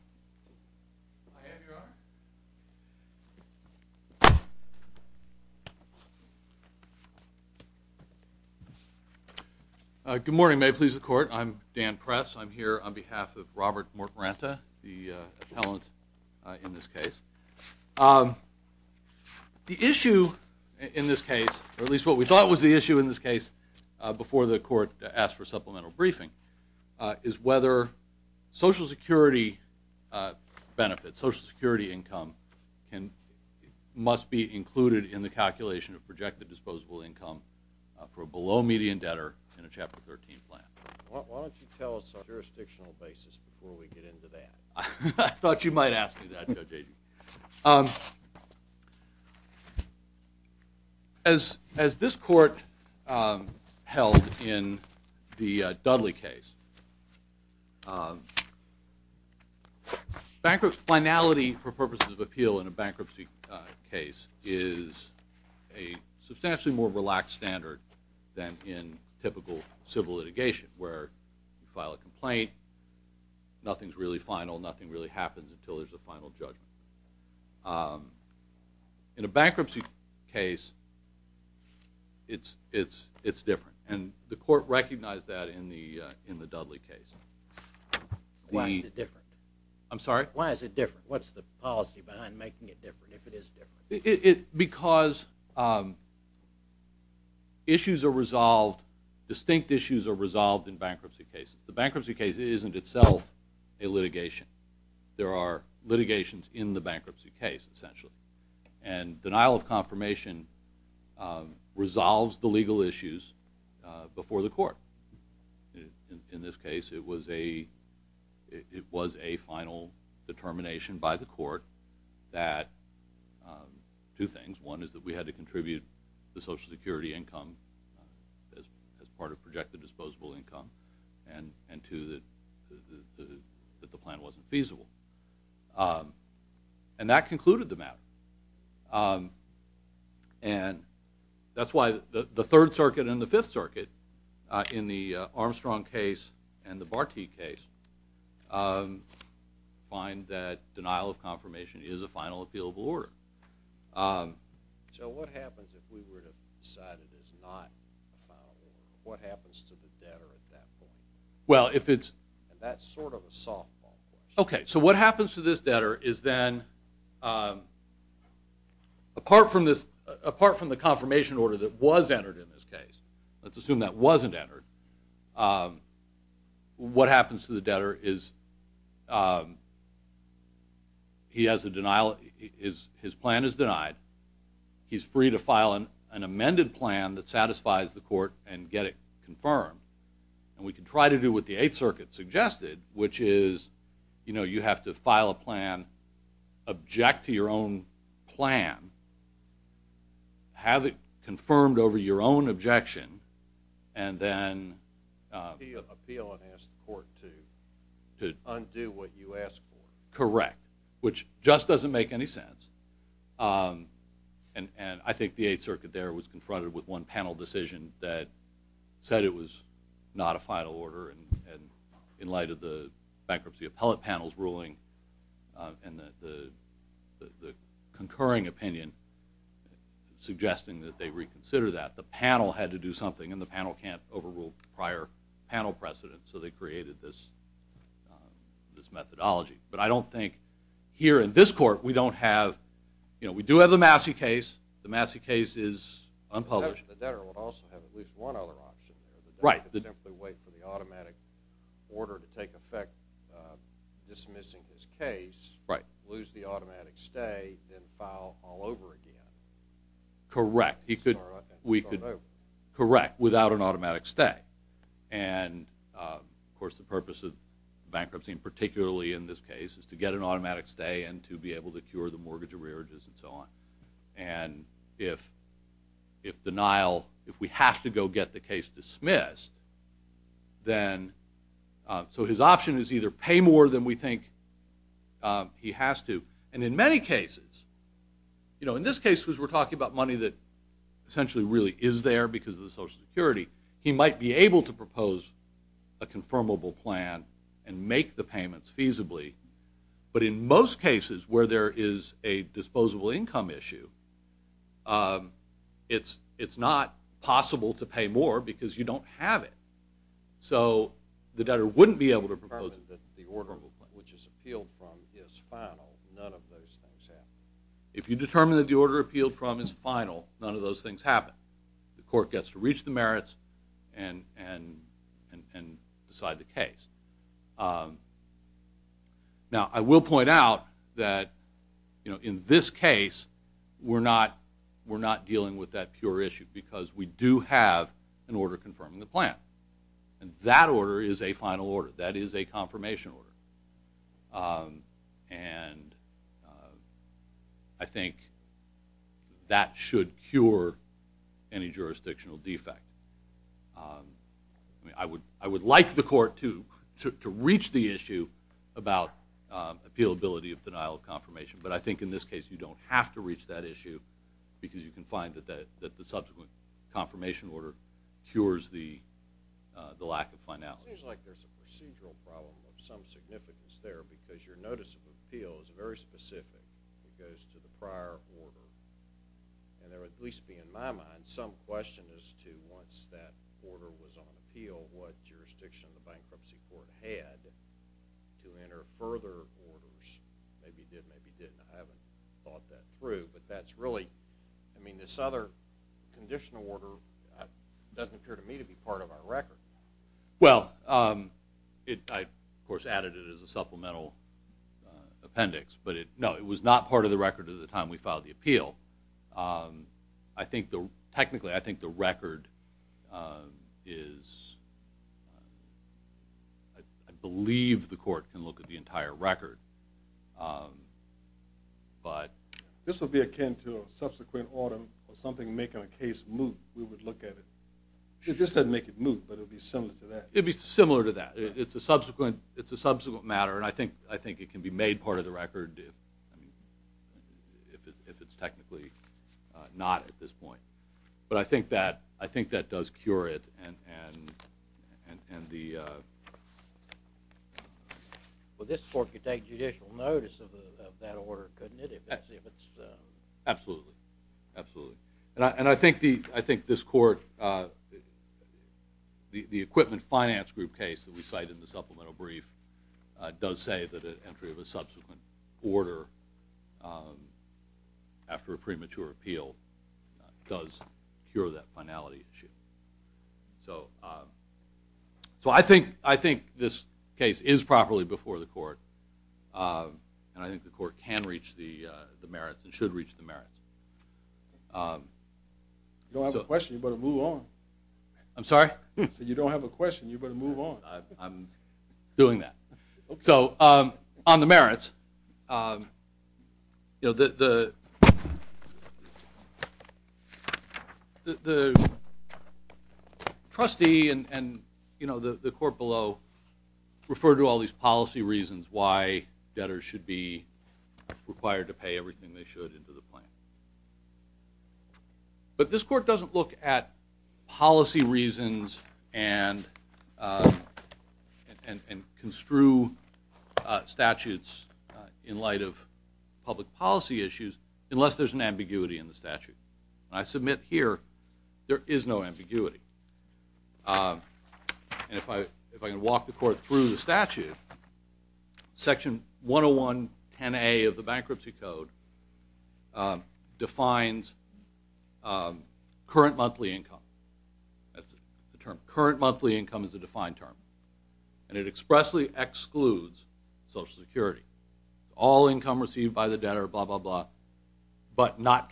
I have your honor. Good morning. May it please the court. I'm Dan Press. I'm here on behalf of Robert Mort Ranta, the appellant in this case. The issue in this case, or at least what we thought was the issue in this case before the court asked for supplemental briefing, is whether Social Security benefits, Social Security income must be included in the calculation of projected disposable income for a below-median debtor in a Chapter 13 plan. Why don't you tell us a jurisdictional basis before we get into that? I thought you might ask me that, Judge Agee. As this court held in the Dudley case, finality for purposes of appeal in a bankruptcy case is a substantially more relaxed standard than in typical civil litigation, where you file a complaint, nothing's really final, nothing really happens until there's a final judgment. In a bankruptcy case, it's different, and the court recognized that in the Dudley case. Why is it different? I'm sorry? Why is it different? What's the policy behind making it different, if it is different? Because issues are resolved, distinct issues are resolved in bankruptcy cases. The bankruptcy case isn't itself a litigation. There are litigations in the bankruptcy case, essentially. And denial of confirmation resolves the legal issues before the court. In this case, it was a final determination by the court that two things. One is that we had to contribute the Social Security income as part of projected disposable income, and two, that the plan wasn't feasible. And that concluded the matter. And that's why the Third Circuit and the Fifth Circuit, in the Armstrong case and the Bartee case, find that denial of confirmation is a final appealable order. So what happens if we were to decide it is not a final order? What happens to the debtor at that point? Well, if it's... And that's sort of a softball question. Okay, so what happens to this debtor is then, apart from the confirmation order that was entered in this case, let's assume that wasn't entered, what happens to the debtor is he has a denial, his plan is denied. He's free to file an amended plan that satisfies the court and get it confirmed. And we can try to do what the Eighth Circuit suggested, which is you have to file a plan, object to your own plan, have it confirmed over your own objection, and then... Appeal and ask the court to undo what you asked for. Correct. Which just doesn't make any sense. And I think the Eighth Circuit there was confronted with one panel decision that said it was not a final order, and in light of the bankruptcy appellate panel's ruling and the concurring opinion suggesting that they reconsider that, the panel had to do something, and the panel can't overrule prior panel precedents, so they created this methodology. But I don't think here in this court we don't have... We do have the Massey case. The Massey case is unpublished. The debtor would also have at least one other option. Right. Simply wait for the automatic order to take effect dismissing his case, lose the automatic stay, and file all over again. Correct. And start over. Correct, without an automatic stay. And, of course, the purpose of bankruptcy, and particularly in this case, is to get an automatic stay and to be able to cure the mortgage arrearages and so on. And if denial, if we have to go get the case dismissed, so his option is either pay more than we think he has to. And in many cases, in this case, because we're talking about money that essentially really is there because of the Social Security, he might be able to propose a confirmable plan and make the payments feasibly. But in most cases where there is a disposable income issue, it's not possible to pay more because you don't have it. So the debtor wouldn't be able to propose it. But the order, which is appealed from, is final. None of those things happen. If you determine that the order appealed from is final, none of those things happen. The court gets to reach the merits and decide the case. Now, I will point out that in this case, we're not dealing with that pure issue because we do have an order confirming the plan. And that order is a final order. That is a confirmation order. And I think that should cure any jurisdictional defect. I would like the court to reach the issue about appealability of denial of confirmation. But I think in this case you don't have to reach that issue because you can find that the subsequent confirmation order cures the lack of finality. It seems like there's a procedural problem of some significance there because your notice of appeal is very specific. It goes to the prior order. And there would at least be, in my mind, some question as to once that order was on appeal what jurisdiction the bankruptcy court had to enter further orders. Maybe it did, maybe it didn't. I haven't thought that through. But that's really, I mean, this other conditional order doesn't appear to me to be part of our record. Well, I, of course, added it as a supplemental appendix. But no, it was not part of the record at the time we filed the appeal. Technically, I think the record is... I believe the court can look at the entire record. This would be akin to a subsequent order or something making a case move. We would look at it. This doesn't make it move, but it would be similar to that. It would be similar to that. It's a subsequent matter, and I think it can be made part of the record if it's technically not at this point. But I think that does cure it. Well, this court could take judicial notice of that order, couldn't it? Absolutely, absolutely. And I think this court, the equipment finance group case that we cite in the supplemental brief does say that an entry of a subsequent order after a premature appeal does cure that finality issue. So I think this case is properly before the court, and I think the court can reach the merits and should reach the merits. If you don't have a question, you better move on. I'm sorry? I said if you don't have a question, you better move on. I'm doing that. So on the merits, the trustee and the court below refer to all these policy reasons why debtors should be required to pay everything they should into the plan. But this court doesn't look at policy reasons and construe statutes in light of public policy issues unless there's an ambiguity in the statute. And I submit here there is no ambiguity. And if I can walk the court through the statute, section 10110A of the Bankruptcy Code defines current monthly income. That's the term. Current monthly income is a defined term. And it expressly excludes Social Security. All income received by the debtor, blah, blah, blah, but not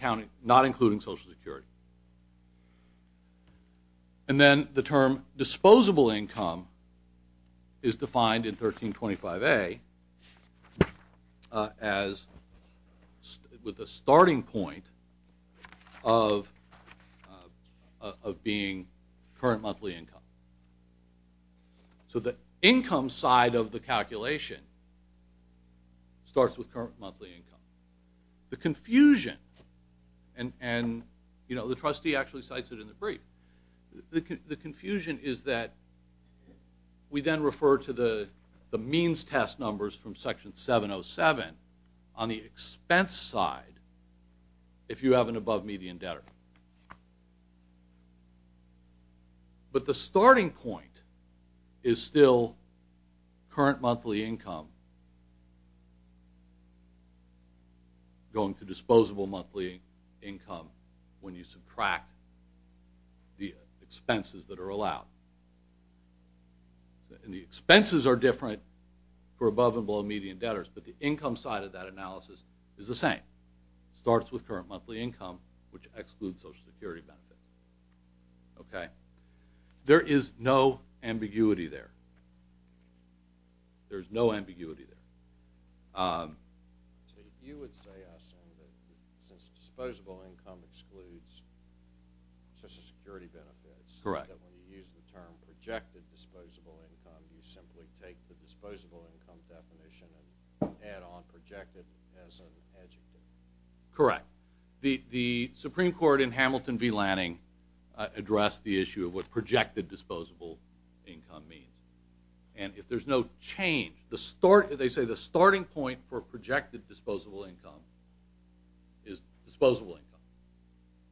including Social Security. And then the term disposable income is defined in 1325A as with a starting point of being current monthly income. So the income side of the calculation starts with current monthly income. The confusion, and the trustee actually cites it in the brief, the confusion is that we then refer to the means test numbers from section 707 on the expense side if you have an above-median debtor. But the starting point is still current monthly income going to disposable monthly income when you subtract the expenses that are allowed. And the expenses are different for above and below-median debtors, but the income side of that analysis is the same. Starts with current monthly income, which excludes Social Security benefits. There is no ambiguity there. There's no ambiguity there. You would say, I assume, that since disposable income excludes Social Security benefits, that when you use the term projected disposable income, you simply take the disposable income definition and add on projected as an adjective. Correct. The Supreme Court in Hamilton v. Lanning addressed the issue of what projected disposable income means. And if there's no change, they say the starting point for projected disposable income is disposable income.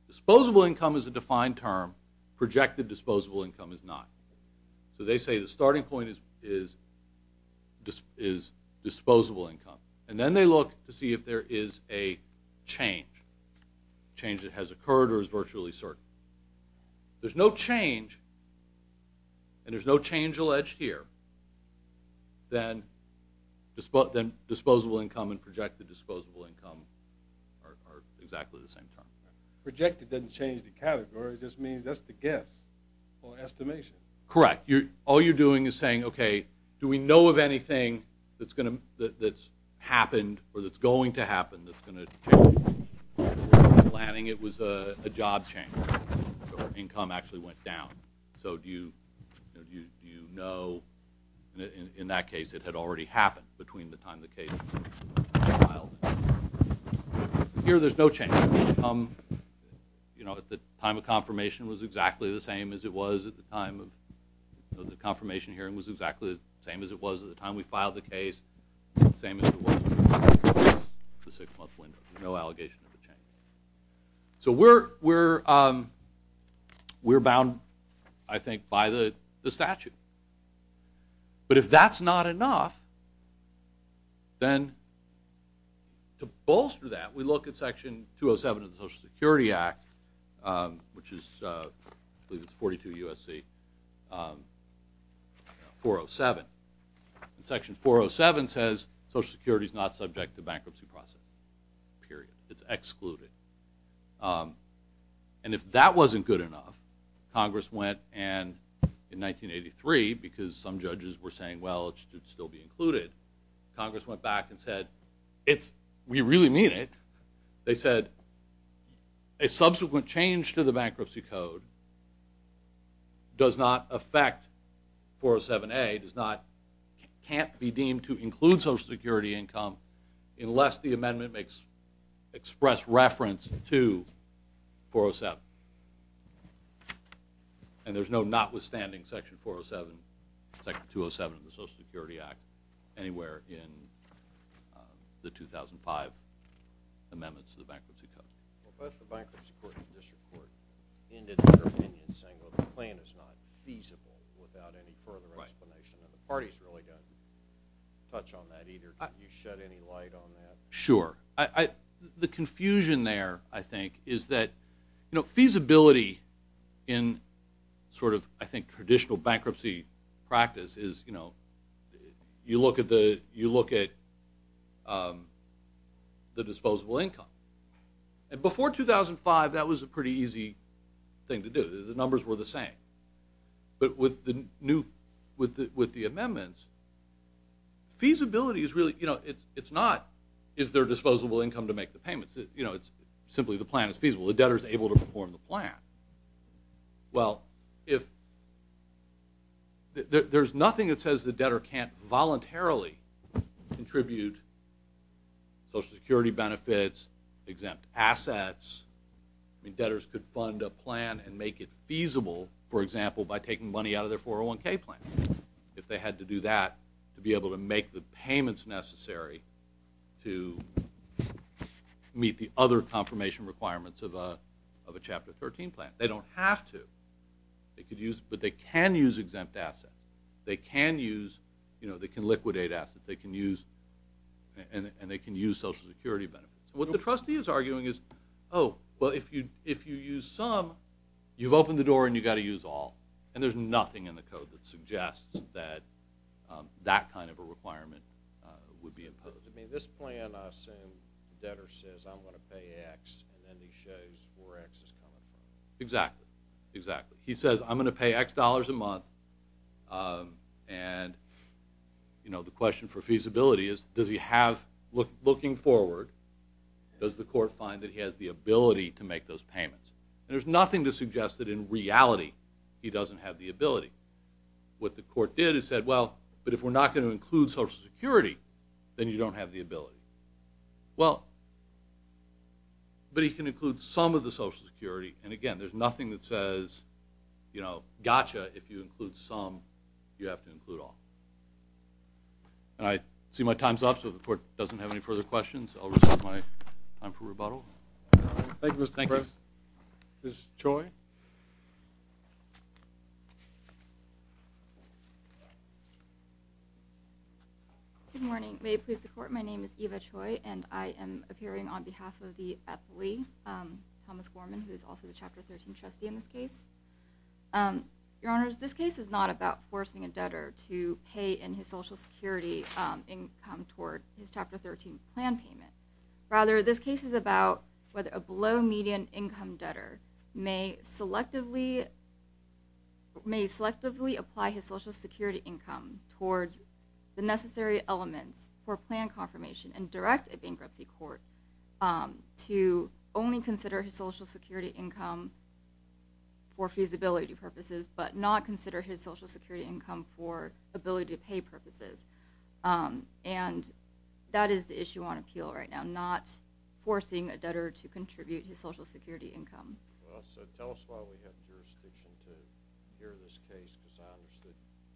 Disposable income is a defined term. Projected disposable income is not. So they say the starting point is disposable income. And then they look to see if there is a change, a change that has occurred or is virtually certain. If there's no change, and there's no change alleged here, then disposable income and projected disposable income are exactly the same term. Projected doesn't change the category. It just means that's the guess or estimation. Correct. All you're doing is saying, okay, do we know of anything that's happened or that's going to happen that's going to change? In Lanning, it was a job change. Income actually went down. So do you know? In that case, it had already happened between the time the case was filed. Here, there's no change. The time of confirmation was exactly the same as it was at the time of the confirmation hearing was exactly the same as it was at the time we filed the case, the same as it was at the six-month window. No allegation of a change. So we're bound, I think, by the statute. But if that's not enough, then to bolster that, we look at Section 207 of the Social Security Act, which is 42 U.S.C. 407. Section 407 says, Social Security is not subject to bankruptcy process, period. It's excluded. And if that wasn't good enough, Congress went and, in 1983, because some judges were saying, well, it should still be included, Congress went back and said, we really mean it. They said, a subsequent change to the bankruptcy code does not affect 407A, can't be deemed to include Social Security income unless the amendment makes express reference to 407. And there's no notwithstanding Section 407, Section 207 of the Social Security Act, anywhere in the 2005 amendments to the bankruptcy code. Well, both the Bankruptcy Court and the District Court ended their opinion saying, well, the claim is not feasible without any further explanation. And the parties really didn't touch on that either. Did you shed any light on that? Sure. The confusion there, I think, is that feasibility in sort of, I think, traditional bankruptcy practice is, you know, you look at the disposable income. And before 2005, that was a pretty easy thing to do. The numbers were the same. But with the amendments, feasibility is really, you know, it's not, is there disposable income to make the payments? You know, it's simply the plan is feasible. The debtor is able to perform the plan. Well, if there's nothing that says the debtor can't voluntarily contribute Social Security benefits, exempt assets. I mean, debtors could fund a plan and make it feasible, for example, by taking money out of their 401K plan if they had to do that to be able to make the payments necessary to meet the other confirmation requirements of a Chapter 13 plan. They don't have to. They could use, but they can use exempt assets. They can use, you know, they can liquidate assets. They can use, and they can use Social Security benefits. What the trustee is arguing is, oh, well, if you use some, you've opened the door and you've got to use all, and there's nothing in the code that suggests that that kind of a requirement would be imposed. I mean, this plan, I assume, the debtor says, I'm going to pay X, and then he shows where X is coming from. Exactly, exactly. He says, I'm going to pay X dollars a month, and, you know, the question for feasibility is, does he have, looking forward, does the court find that he has the ability to make those payments? And there's nothing to suggest that, in reality, he doesn't have the ability. What the court did is said, well, but if we're not going to include Social Security, then you don't have the ability. Well, but he can include some of the Social Security, and, again, there's nothing that says, you know, gotcha if you include some, you have to include all. And I see my time's up, so the court doesn't have any further questions. I'll reserve my time for rebuttal. Thank you, Mr. President. Thank you. Ms. Choi. Good morning. May it please the Court, my name is Eva Choi, and I am appearing on behalf of the athlete, Thomas Gorman, who is also the Chapter 13 trustee in this case. Your Honors, this case is not about forcing a debtor to pay in his Social Security income toward his Chapter 13 plan payment. Rather, this case is about whether a below-median income debtor may selectively apply his Social Security income towards the necessary elements for plan confirmation and direct a bankruptcy court to only consider his Social Security income for feasibility purposes, but not consider his Social Security income for ability-to-pay purposes. And that is the issue on appeal right now, not forcing a debtor to contribute his Social Security income. Well, so tell us why we have jurisdiction to hear this case, because I understood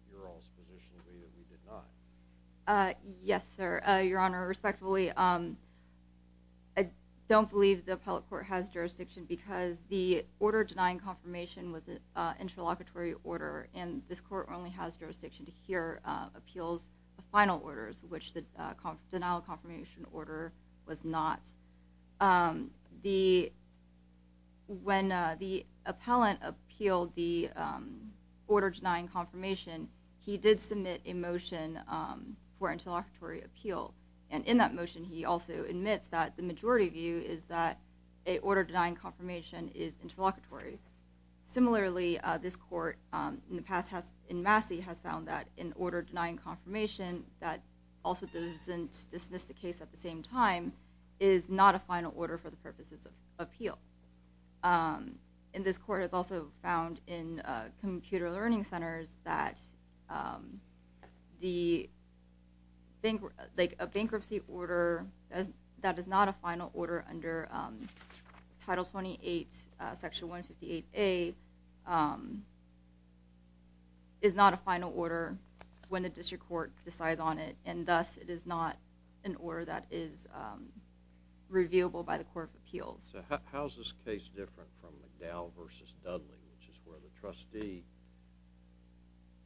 your all's position to be that we did not. Yes, sir. Your Honor, respectfully, I don't believe the appellate court has jurisdiction because the order denying confirmation was an interlocutory order, and this court only has jurisdiction to hear appeals of final orders, which the denial of confirmation order was not. When the appellant appealed the order denying confirmation, he did submit a motion for interlocutory appeal, and in that motion he also admits that the majority view is that an order denying confirmation is interlocutory. Similarly, this court in the past in Massey has found that an order denying confirmation that also doesn't dismiss the case at the same time is not a final order for the purposes of appeal. And this court has also found in computer learning centers that a bankruptcy order that is not a final order under Title 28, Section 158A, is not a final order when the district court decides on it, and thus it is not an order that is reviewable by the court of appeals. So how is this case different from McDowell v. Dudley, which is where the trustee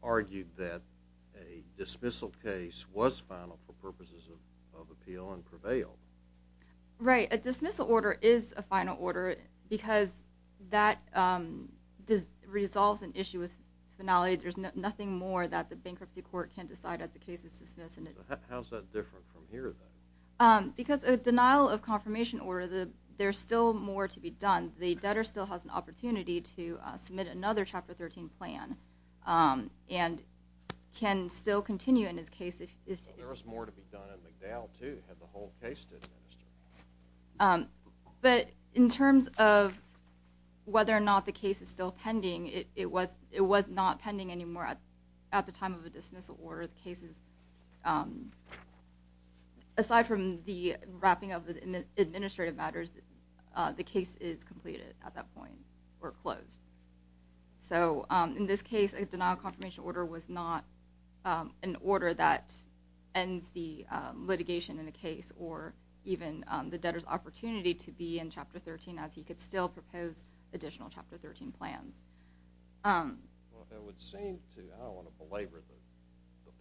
argued that a dismissal case was final for purposes of appeal and prevailed? Right. A dismissal order is a final order because that resolves an issue with finality. There's nothing more that the bankruptcy court can decide if the case is dismissed. How is that different from here, then? Because a denial of confirmation order, there's still more to be done. The debtor still has an opportunity to submit another Chapter 13 plan and can still continue in his case. There is more to be done in McDowell, too, to have the whole case administered. But in terms of whether or not the case is still pending, it was not pending anymore at the time of the dismissal order. Aside from the wrapping up the administrative matters, the case is completed at that point or closed. So in this case, a denial of confirmation order was not an order that ends the litigation in the case or even the debtor's opportunity to be in Chapter 13 as he could still propose additional Chapter 13 plans. Well, it would seem to, I don't want to belabor the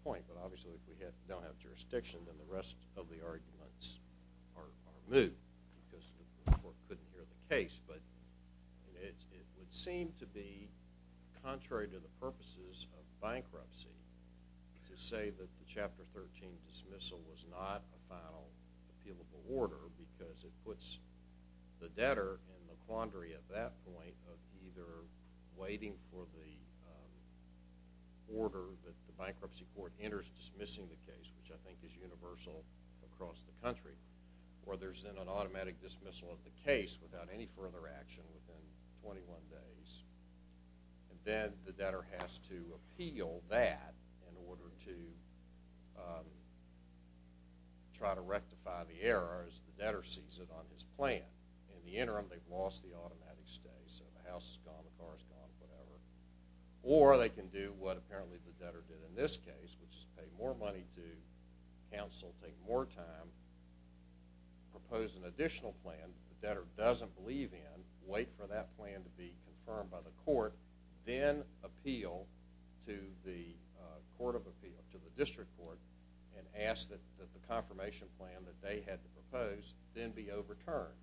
point, but obviously if we don't have jurisdiction, then the rest of the arguments are moved because the court couldn't hear the case. But it would seem to be, contrary to the purposes of bankruptcy, to say that the Chapter 13 dismissal was not a final appealable order because it puts the debtor in the quandary at that point of either waiting for the order that the bankruptcy court enters and dismissing the case, which I think is universal across the country, or there's then an automatic dismissal of the case without any further action within 21 days. And then the debtor has to appeal that in order to try to rectify the error as the debtor sees it on his plan. In the interim, they've lost the automatic stay. So the house is gone, the car is gone, whatever. Or they can do what apparently the debtor did in this case, which is pay more money to counsel, take more time, propose an additional plan that the debtor doesn't believe in, wait for that plan to be confirmed by the court, then appeal to the court of appeal, to the district court, and ask that the confirmation plan that they had to propose then be overturned,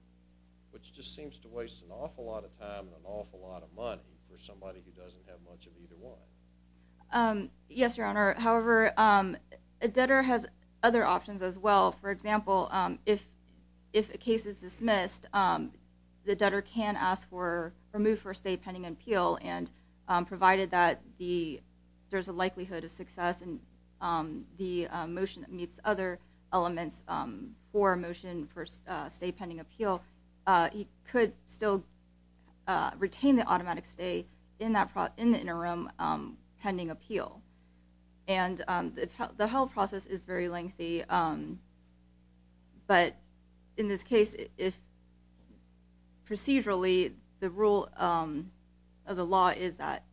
which just seems to waste an awful lot of time and an awful lot of money for somebody who doesn't have much of either one. Yes, Your Honor. However, a debtor has other options as well. For example, if a case is dismissed, the debtor can ask for or move for a stay pending appeal, and provided that there's a likelihood of success and the motion meets other elements for a motion for a stay pending appeal, he could still retain the automatic stay in the interim pending appeal. And the whole process is very lengthy. But in this case, procedurally, the rule of the law is that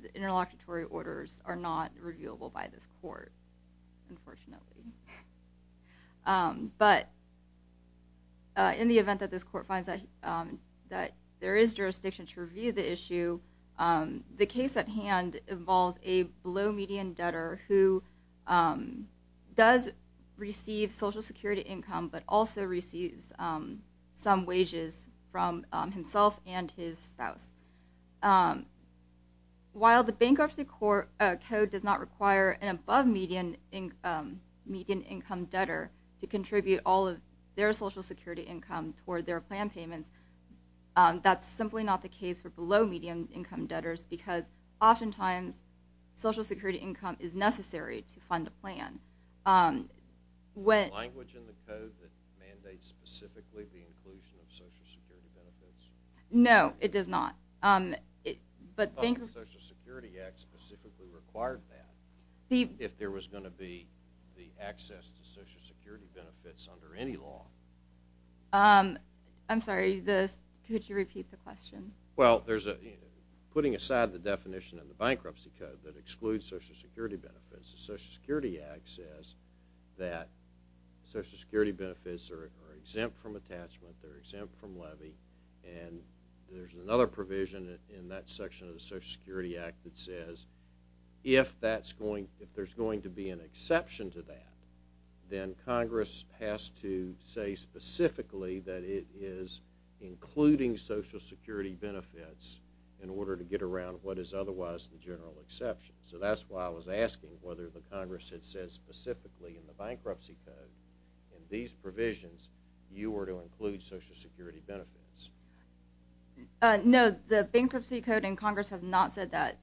the interlocutory orders are not reviewable by this court, unfortunately. But in the event that this court finds that there is jurisdiction to review the issue, the case at hand involves a low-median debtor who does receive Social Security income, but also receives some wages from himself and his spouse. While the Bankruptcy Code does not require an above-median income debtor to contribute all of their Social Security income toward their plan payments, that's simply not the case for below-median income debtors because oftentimes Social Security income is necessary to fund a plan. Is there language in the code that mandates specifically the inclusion of Social Security benefits? No, it does not. The Social Security Act specifically required that if there was going to be the access to Social Security benefits under any law. I'm sorry, could you repeat the question? Well, putting aside the definition in the Bankruptcy Code that excludes Social Security benefits, the Social Security Act says that Social Security benefits are exempt from attachment, they're exempt from levy, and there's another provision in that section of the Social Security Act that says if there's going to be an exception to that, then Congress has to say specifically that it is including Social Security benefits in order to get around what is otherwise the general exception. So that's why I was asking whether the Congress had said specifically in the Bankruptcy Code that in these provisions you were to include Social Security benefits. No, the Bankruptcy Code in Congress has not said that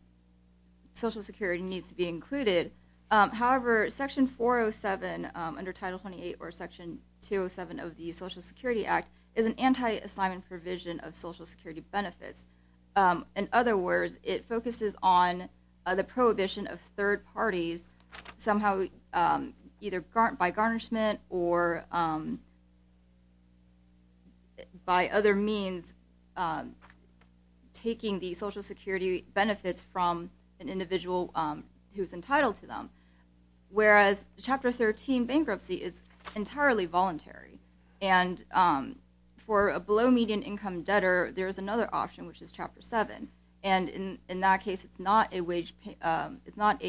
Social Security needs to be included. However, Section 407 under Title 28 or Section 207 of the Social Security Act is an anti-assignment provision of Social Security benefits. In other words, it focuses on the prohibition of third parties somehow either by garnishment or by other means taking the Social Security benefits from an individual who's entitled to them, whereas Chapter 13 bankruptcy is entirely voluntary. And for a below-median income debtor, there's another option, which is Chapter 7. And in that case, it's not a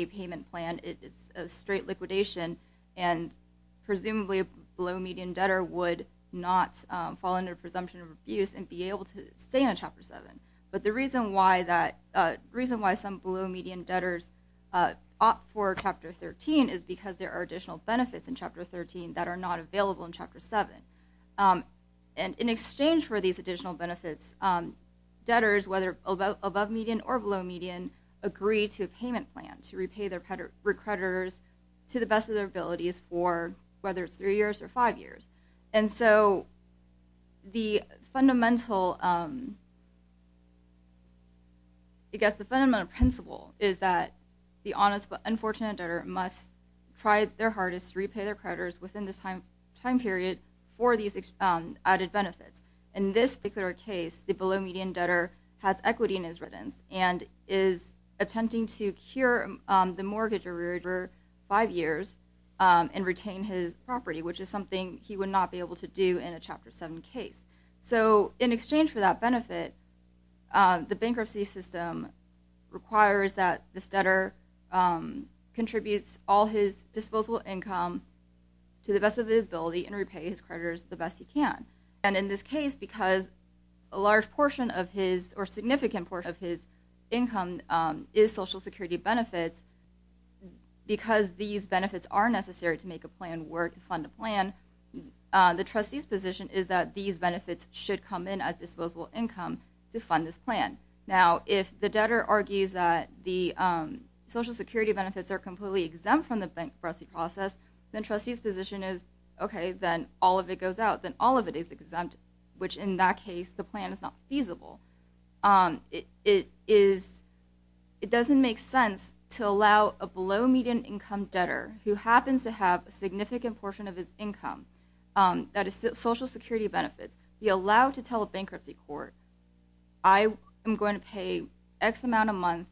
payment plan, it's a straight liquidation, and presumably a below-median debtor would not fall under the presumption of abuse and be able to stay in Chapter 7. But the reason why some below-median debtors opt for Chapter 13 is because there are additional benefits in Chapter 13 that are not available in Chapter 7. And in exchange for these additional benefits, debtors, whether above-median or below-median, agree to a payment plan to repay their creditors to the best of their abilities for whether it's three years or five years. And so the fundamental principle is that the honest but unfortunate debtor must try their hardest to repay their creditors within this time period for these added benefits. In this particular case, the below-median debtor has equity in his returns and is attempting to cure the mortgage for five years and retain his property, which is something he would not be able to do in a Chapter 7 case. So in exchange for that benefit, the bankruptcy system requires that this debtor contributes all his disposable income to the best of his ability and repay his creditors the best he can. And in this case, because a significant portion of his income is Social Security benefits, because these benefits are necessary to make a plan work, to fund a plan, the trustee's position is that these benefits should come in as disposable income to fund this plan. Now, if the debtor argues that the Social Security benefits are completely exempt from the bankruptcy process, then the trustee's position is, okay, then all of it goes out, then all of it is exempt, which in that case, the plan is not feasible. It doesn't make sense to allow a below-median income debtor who happens to have a significant portion of his income that is Social Security benefits, be allowed to tell a bankruptcy court, I am going to pay X amount a month,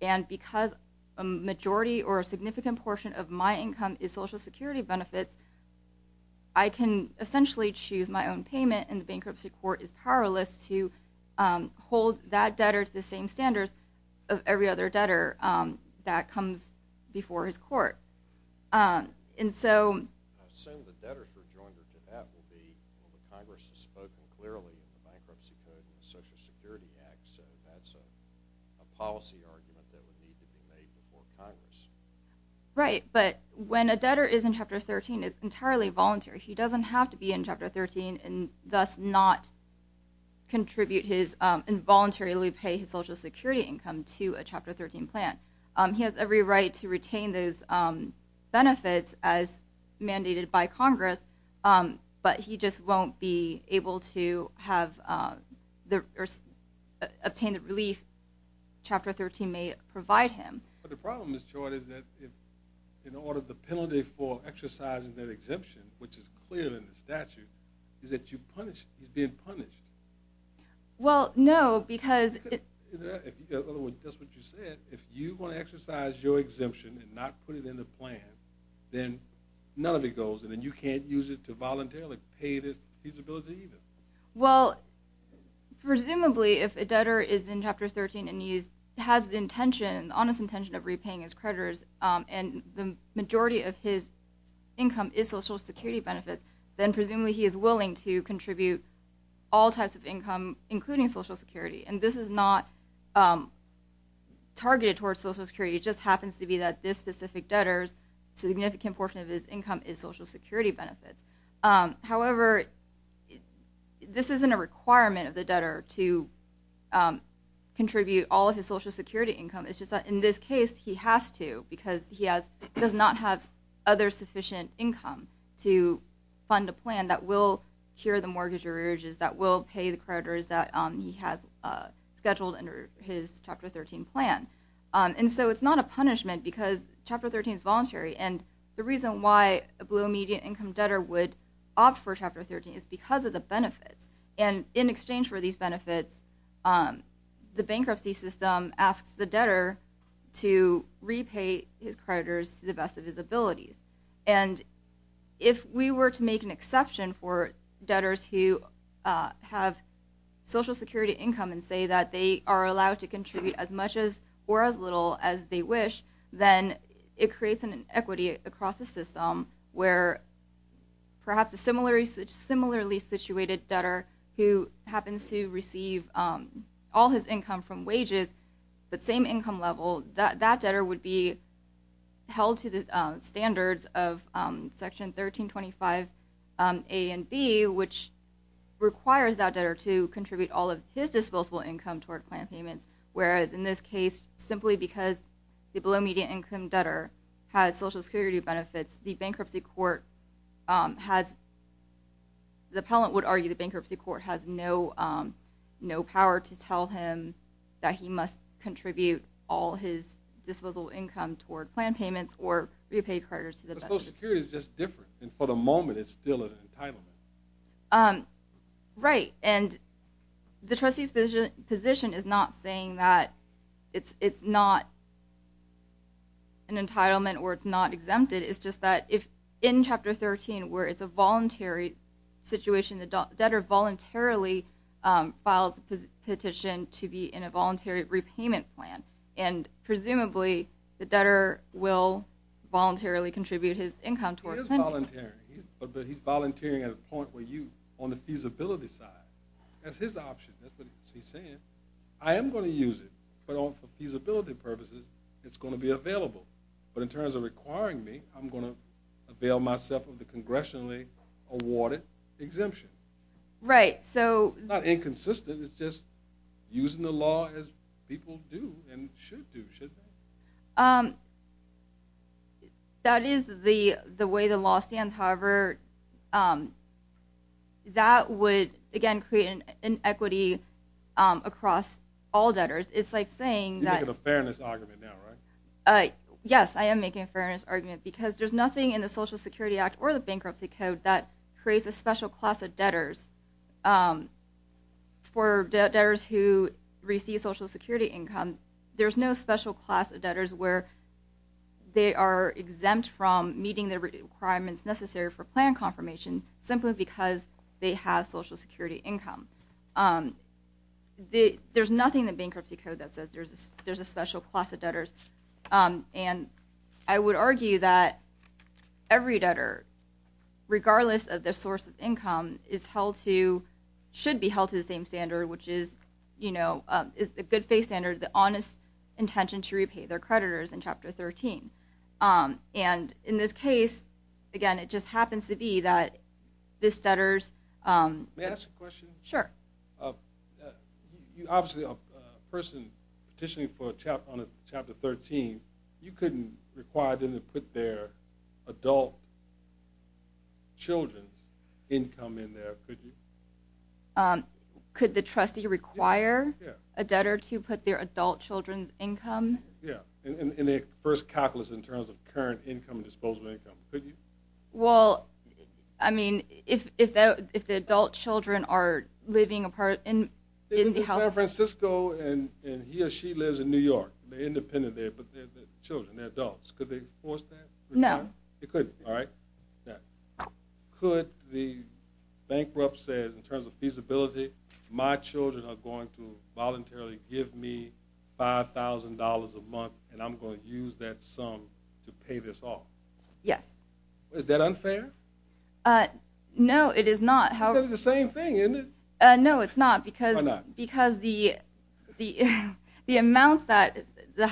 and because a majority or a significant portion of my income is Social Security benefits, I can essentially choose my own payment, and the bankruptcy court is powerless to hold that debtor to the same standards of every other debtor that comes before his court. I assume the debtor's rejoinder to that would be, well, the Congress has spoken clearly in the Bankruptcy Code and the Social Security Act, so that's a policy argument that would need to be made before Congress. Right, but when a debtor is in Chapter 13, it's entirely voluntary. He doesn't have to be in Chapter 13 and thus not contribute his, involuntarily pay his Social Security income to a Chapter 13 plan. He has every right to retain those benefits as mandated by Congress, but he just won't be able to obtain the relief Chapter 13 may provide him. But the problem is, Joy, is that in order for the penalty for exercising that exemption, which is clear in the statute, is that you punish, he's being punished. Well, no, because... In other words, that's what you said. If you want to exercise your exemption and not put it in the plan, then none of it goes, and then you can't use it to voluntarily pay this feasibility either. Well, presumably if a debtor is in Chapter 13 and he has the intention, the honest intention of repaying his creditors, and the majority of his income is Social Security benefits, then presumably he is willing to contribute all types of income, including Social Security. And this is not targeted towards Social Security. It just happens to be that this specific debtor's significant portion of his income is Social Security benefits. However, this isn't a requirement of the debtor to contribute all of his Social Security income. It's just that in this case, he has to, he has to fund a plan that will cure the mortgage urges, that will pay the creditors that he has scheduled under his Chapter 13 plan. And so it's not a punishment because Chapter 13 is voluntary, and the reason why a below-median income debtor would opt for Chapter 13 is because of the benefits. And in exchange for these benefits, the bankruptcy system asks the debtor to repay his creditors to the best of his abilities. And if we were to make an exception for debtors who have Social Security income and say that they are allowed to contribute as much or as little as they wish, then it creates an inequity across the system where perhaps a similarly situated debtor who happens to receive all his income from wages, but same income level, that debtor would be held to the standards of Section 1325A and B, which requires that debtor to contribute all of his disposable income toward plan payments, whereas in this case, simply because the below-median income debtor has Social Security benefits, the bankruptcy court has, the appellant would argue the bankruptcy court has no power to tell him that he must contribute all his disposable income toward plan payments or repay creditors to the best of his ability. But Social Security is just different, and for the moment it's still an entitlement. Right, and the trustee's position is not saying that it's not an entitlement or it's not exempted. It's just that if in Chapter 13 where it's a voluntary situation, the debtor voluntarily files a petition to be in a voluntary repayment plan, and presumably the debtor will voluntarily contribute his income toward plan payments. He is volunteering, but he's volunteering at a point where you, on the feasibility side, that's his option, that's what he's saying. I am going to use it, but for feasibility purposes, it's going to be available. But in terms of requiring me, I'm going to avail myself of the congressionally awarded exemption. Right, so... It's not inconsistent, it's just using the law as people do and should do, shouldn't they? That is the way the law stands. However, that would, again, create an inequity across all debtors. It's like saying that... You're making a fairness argument now, right? Yes, I am making a fairness argument because there's nothing in the Social Security Act or the Bankruptcy Code that creates a special class of debtors. For debtors who receive Social Security income, there's no special class of debtors where they are exempt from meeting the requirements necessary for plan confirmation simply because they have Social Security income. There's nothing in the Bankruptcy Code that says there's a special class of debtors. And I would argue that every debtor, regardless of their source of income, should be held to the same standard, which is the good faith standard, the honest intention to repay their creditors in Chapter 13. And in this case, again, it just happens to be that this debtor's... Obviously, a person petitioning on Chapter 13, you couldn't require them to put their adult children's income in there, could you? Could the trustee require a debtor to put their adult children's income? Yeah, in their first calculus in terms of current income and disposable income, could you? Well, I mean, if the adult children are living apart in the house... They live in San Francisco and he or she lives in New York. They're independent there, but they're children, they're adults. Could they force that? No. They couldn't, all right? Could the Bankruptcy, in terms of feasibility, my children are going to voluntarily give me $5,000 a month and I'm going to use that sum to pay this off? Yes. Is that unfair? No, it is not. It's the same thing, isn't it? No, it's not. Why not? Because the amount that the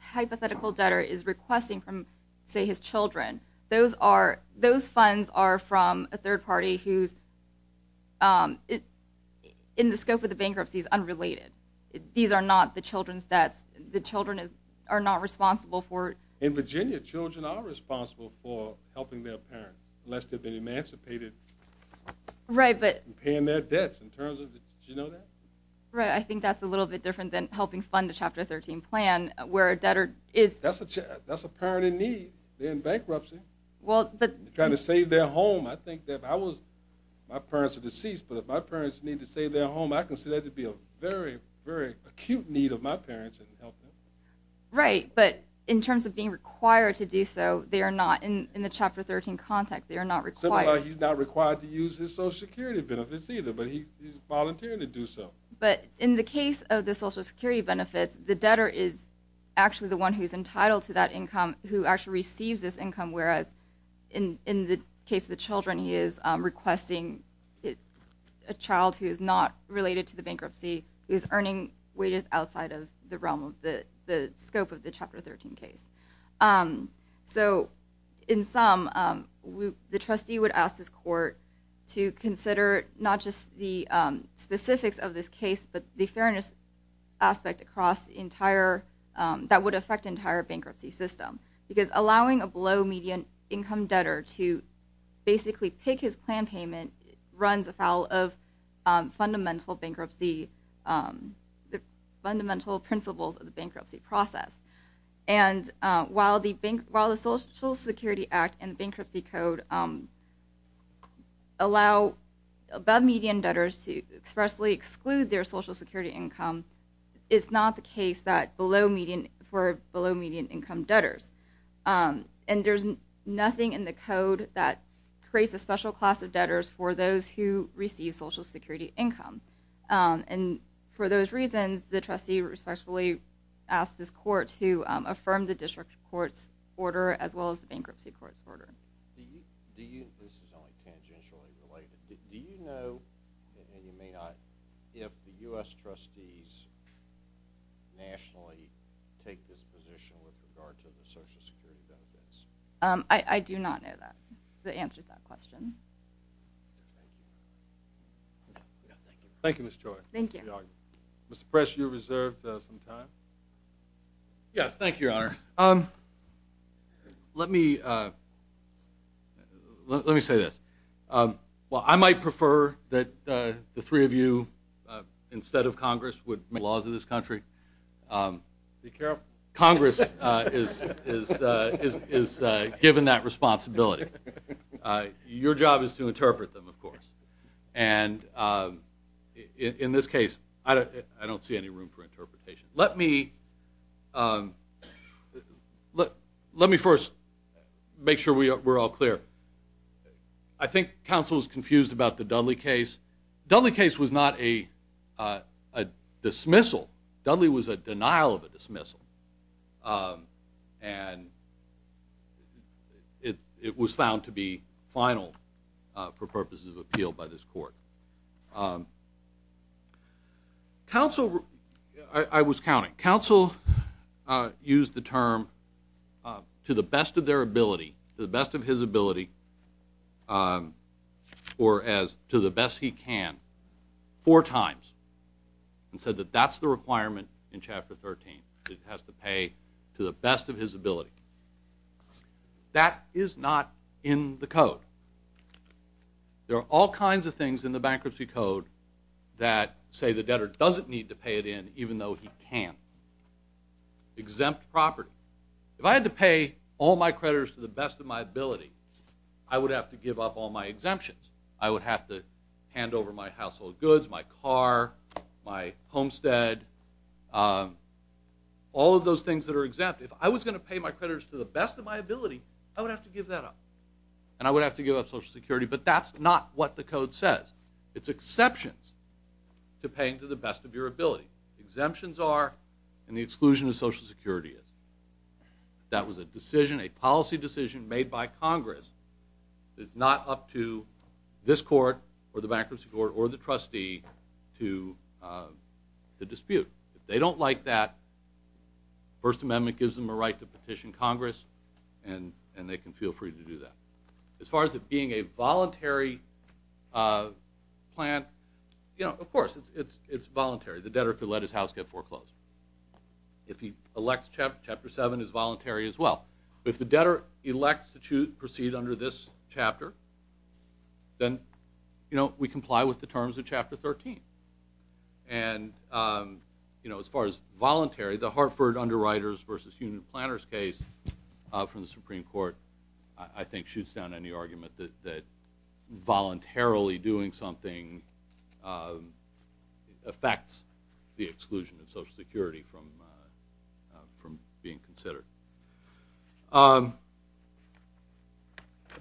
hypothetical debtor is requesting from, say, his children, those funds are from a third party who's, in the scope of the Bankruptcy, is unrelated. These are not the children's debts. The children are not responsible for... In Virginia, children are responsible for helping their parents, unless they've been emancipated and paying their debts. Did you know that? Right. I think that's a little bit different than helping fund a Chapter 13 plan, where a debtor is... That's a parent in need. They're in Bankruptcy. They're trying to save their home. I think that if I was... My parents are deceased, but if my parents need to save their home, I consider that to be a very, very acute need of my parents. Right. But in terms of being required to do so, they are not. In the Chapter 13 context, they are not required. Similarly, he's not required to use his Social Security benefits either, but he's volunteering to do so. But in the case of the Social Security benefits, the debtor is actually the one who's entitled to that income, who actually receives this income, whereas in the case of the children, he is requesting a child who is not related to the Bankruptcy, who is earning wages outside of the scope of the Chapter 13 case. So in sum, the trustee would ask this court to consider not just the specifics of this case, but the fairness aspect that would affect the entire Bankruptcy system, because allowing a below-median income debtor to basically pick his plan payment runs afoul of fundamental principles of the Bankruptcy process. And while the Social Security Act and the Bankruptcy Code allow above-median debtors to expressly exclude their Social Security income, it's not the case for below-median income debtors. And there's nothing in the Code that creates a special class of debtors for those who receive Social Security income. And for those reasons, the trustee respectfully asks this court to affirm the District Court's order as well as the Bankruptcy Court's order. This is only tangentially related. Do you know, and you may not, if the U.S. trustees nationally take this position with regard to the Social Security benefits? I do not know the answer to that question. Thank you, Ms. Choi. Mr. Press, you're reserved some time. Yes, thank you, Your Honor. Let me say this. While I might prefer that the three of you, instead of Congress, would make laws of this country, Congress is given that responsibility. Your job is to interpret them, of course. And in this case, I don't see any room for interpretation. Let me first make sure we're all clear. I think counsel is confused about the Dudley case. Dudley case was not a dismissal. Dudley was a denial of a dismissal. And it was found to be final for purposes of appeal by this court. Counsel, I was counting, counsel used the term to the best of their ability, to the best of his ability, or as to the best he can, four times, and said that that's the requirement in Chapter 13. It has to pay to the best of his ability. That is not in the code. There are all kinds of things in the bankruptcy code that say the debtor doesn't need to pay it in, even though he can. Exempt property. If I had to pay all my creditors to the best of my ability, I would have to give up all my exemptions. I would have to hand over my household goods, my car, my homestead, all of those things that are exempt. If I was going to pay my creditors to the best of my ability, I would have to give that up. And I would have to give up Social Security. But that's not what the code says. It's exceptions to paying to the best of your ability. Exemptions are, and the exclusion of Social Security is. That was a decision, a policy decision made by Congress. It's not up to this court or the bankruptcy court or the trustee to dispute. If they don't like that, the First Amendment gives them a right to petition Congress, and they can feel free to do that. As far as it being a voluntary plan, of course, it's voluntary. The debtor could let his house get foreclosed. If he elects Chapter 7, it's voluntary as well. If the debtor elects to proceed under this chapter, then we comply with the terms of Chapter 13. And as far as voluntary, the Hartford Underwriters v. Union Planners case from the Supreme Court, I think, shoots down any argument that voluntarily doing something affects the exclusion of Social Security from being considered.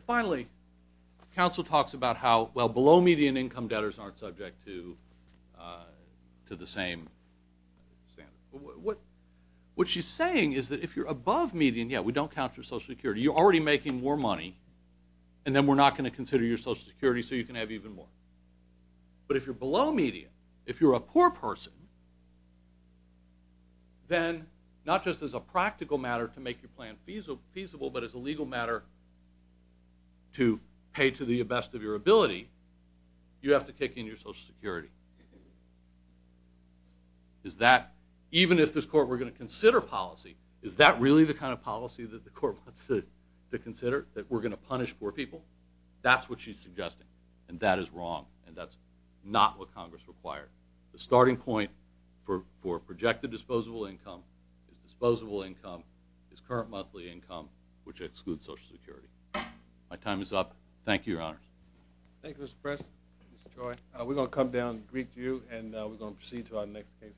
Finally, counsel talks about how, well, below-median income debtors aren't subject to the same standard. What she's saying is that if you're above-median, yeah, we don't count for Social Security. You're already making more money, and then we're not going to consider your Social Security so you can have even more. But if you're below-median, if you're a poor person, then not just as a practical matter to make your plan feasible, but as a legal matter to pay to the best of your ability, you have to kick in your Social Security. Even if this court were going to consider policy, is that really the kind of policy that the court wants to consider, that we're going to punish poor people? That's what she's suggesting, and that is wrong, and that's not what Congress required. The starting point for projected disposable income is disposable income is current monthly income, which excludes Social Security. My time is up. Thank you, Your Honors. Thank you, Mr. Preston, Mr. Choi. We're going to come down to the Greek Jew, and we're going to proceed to our next case. Thank you.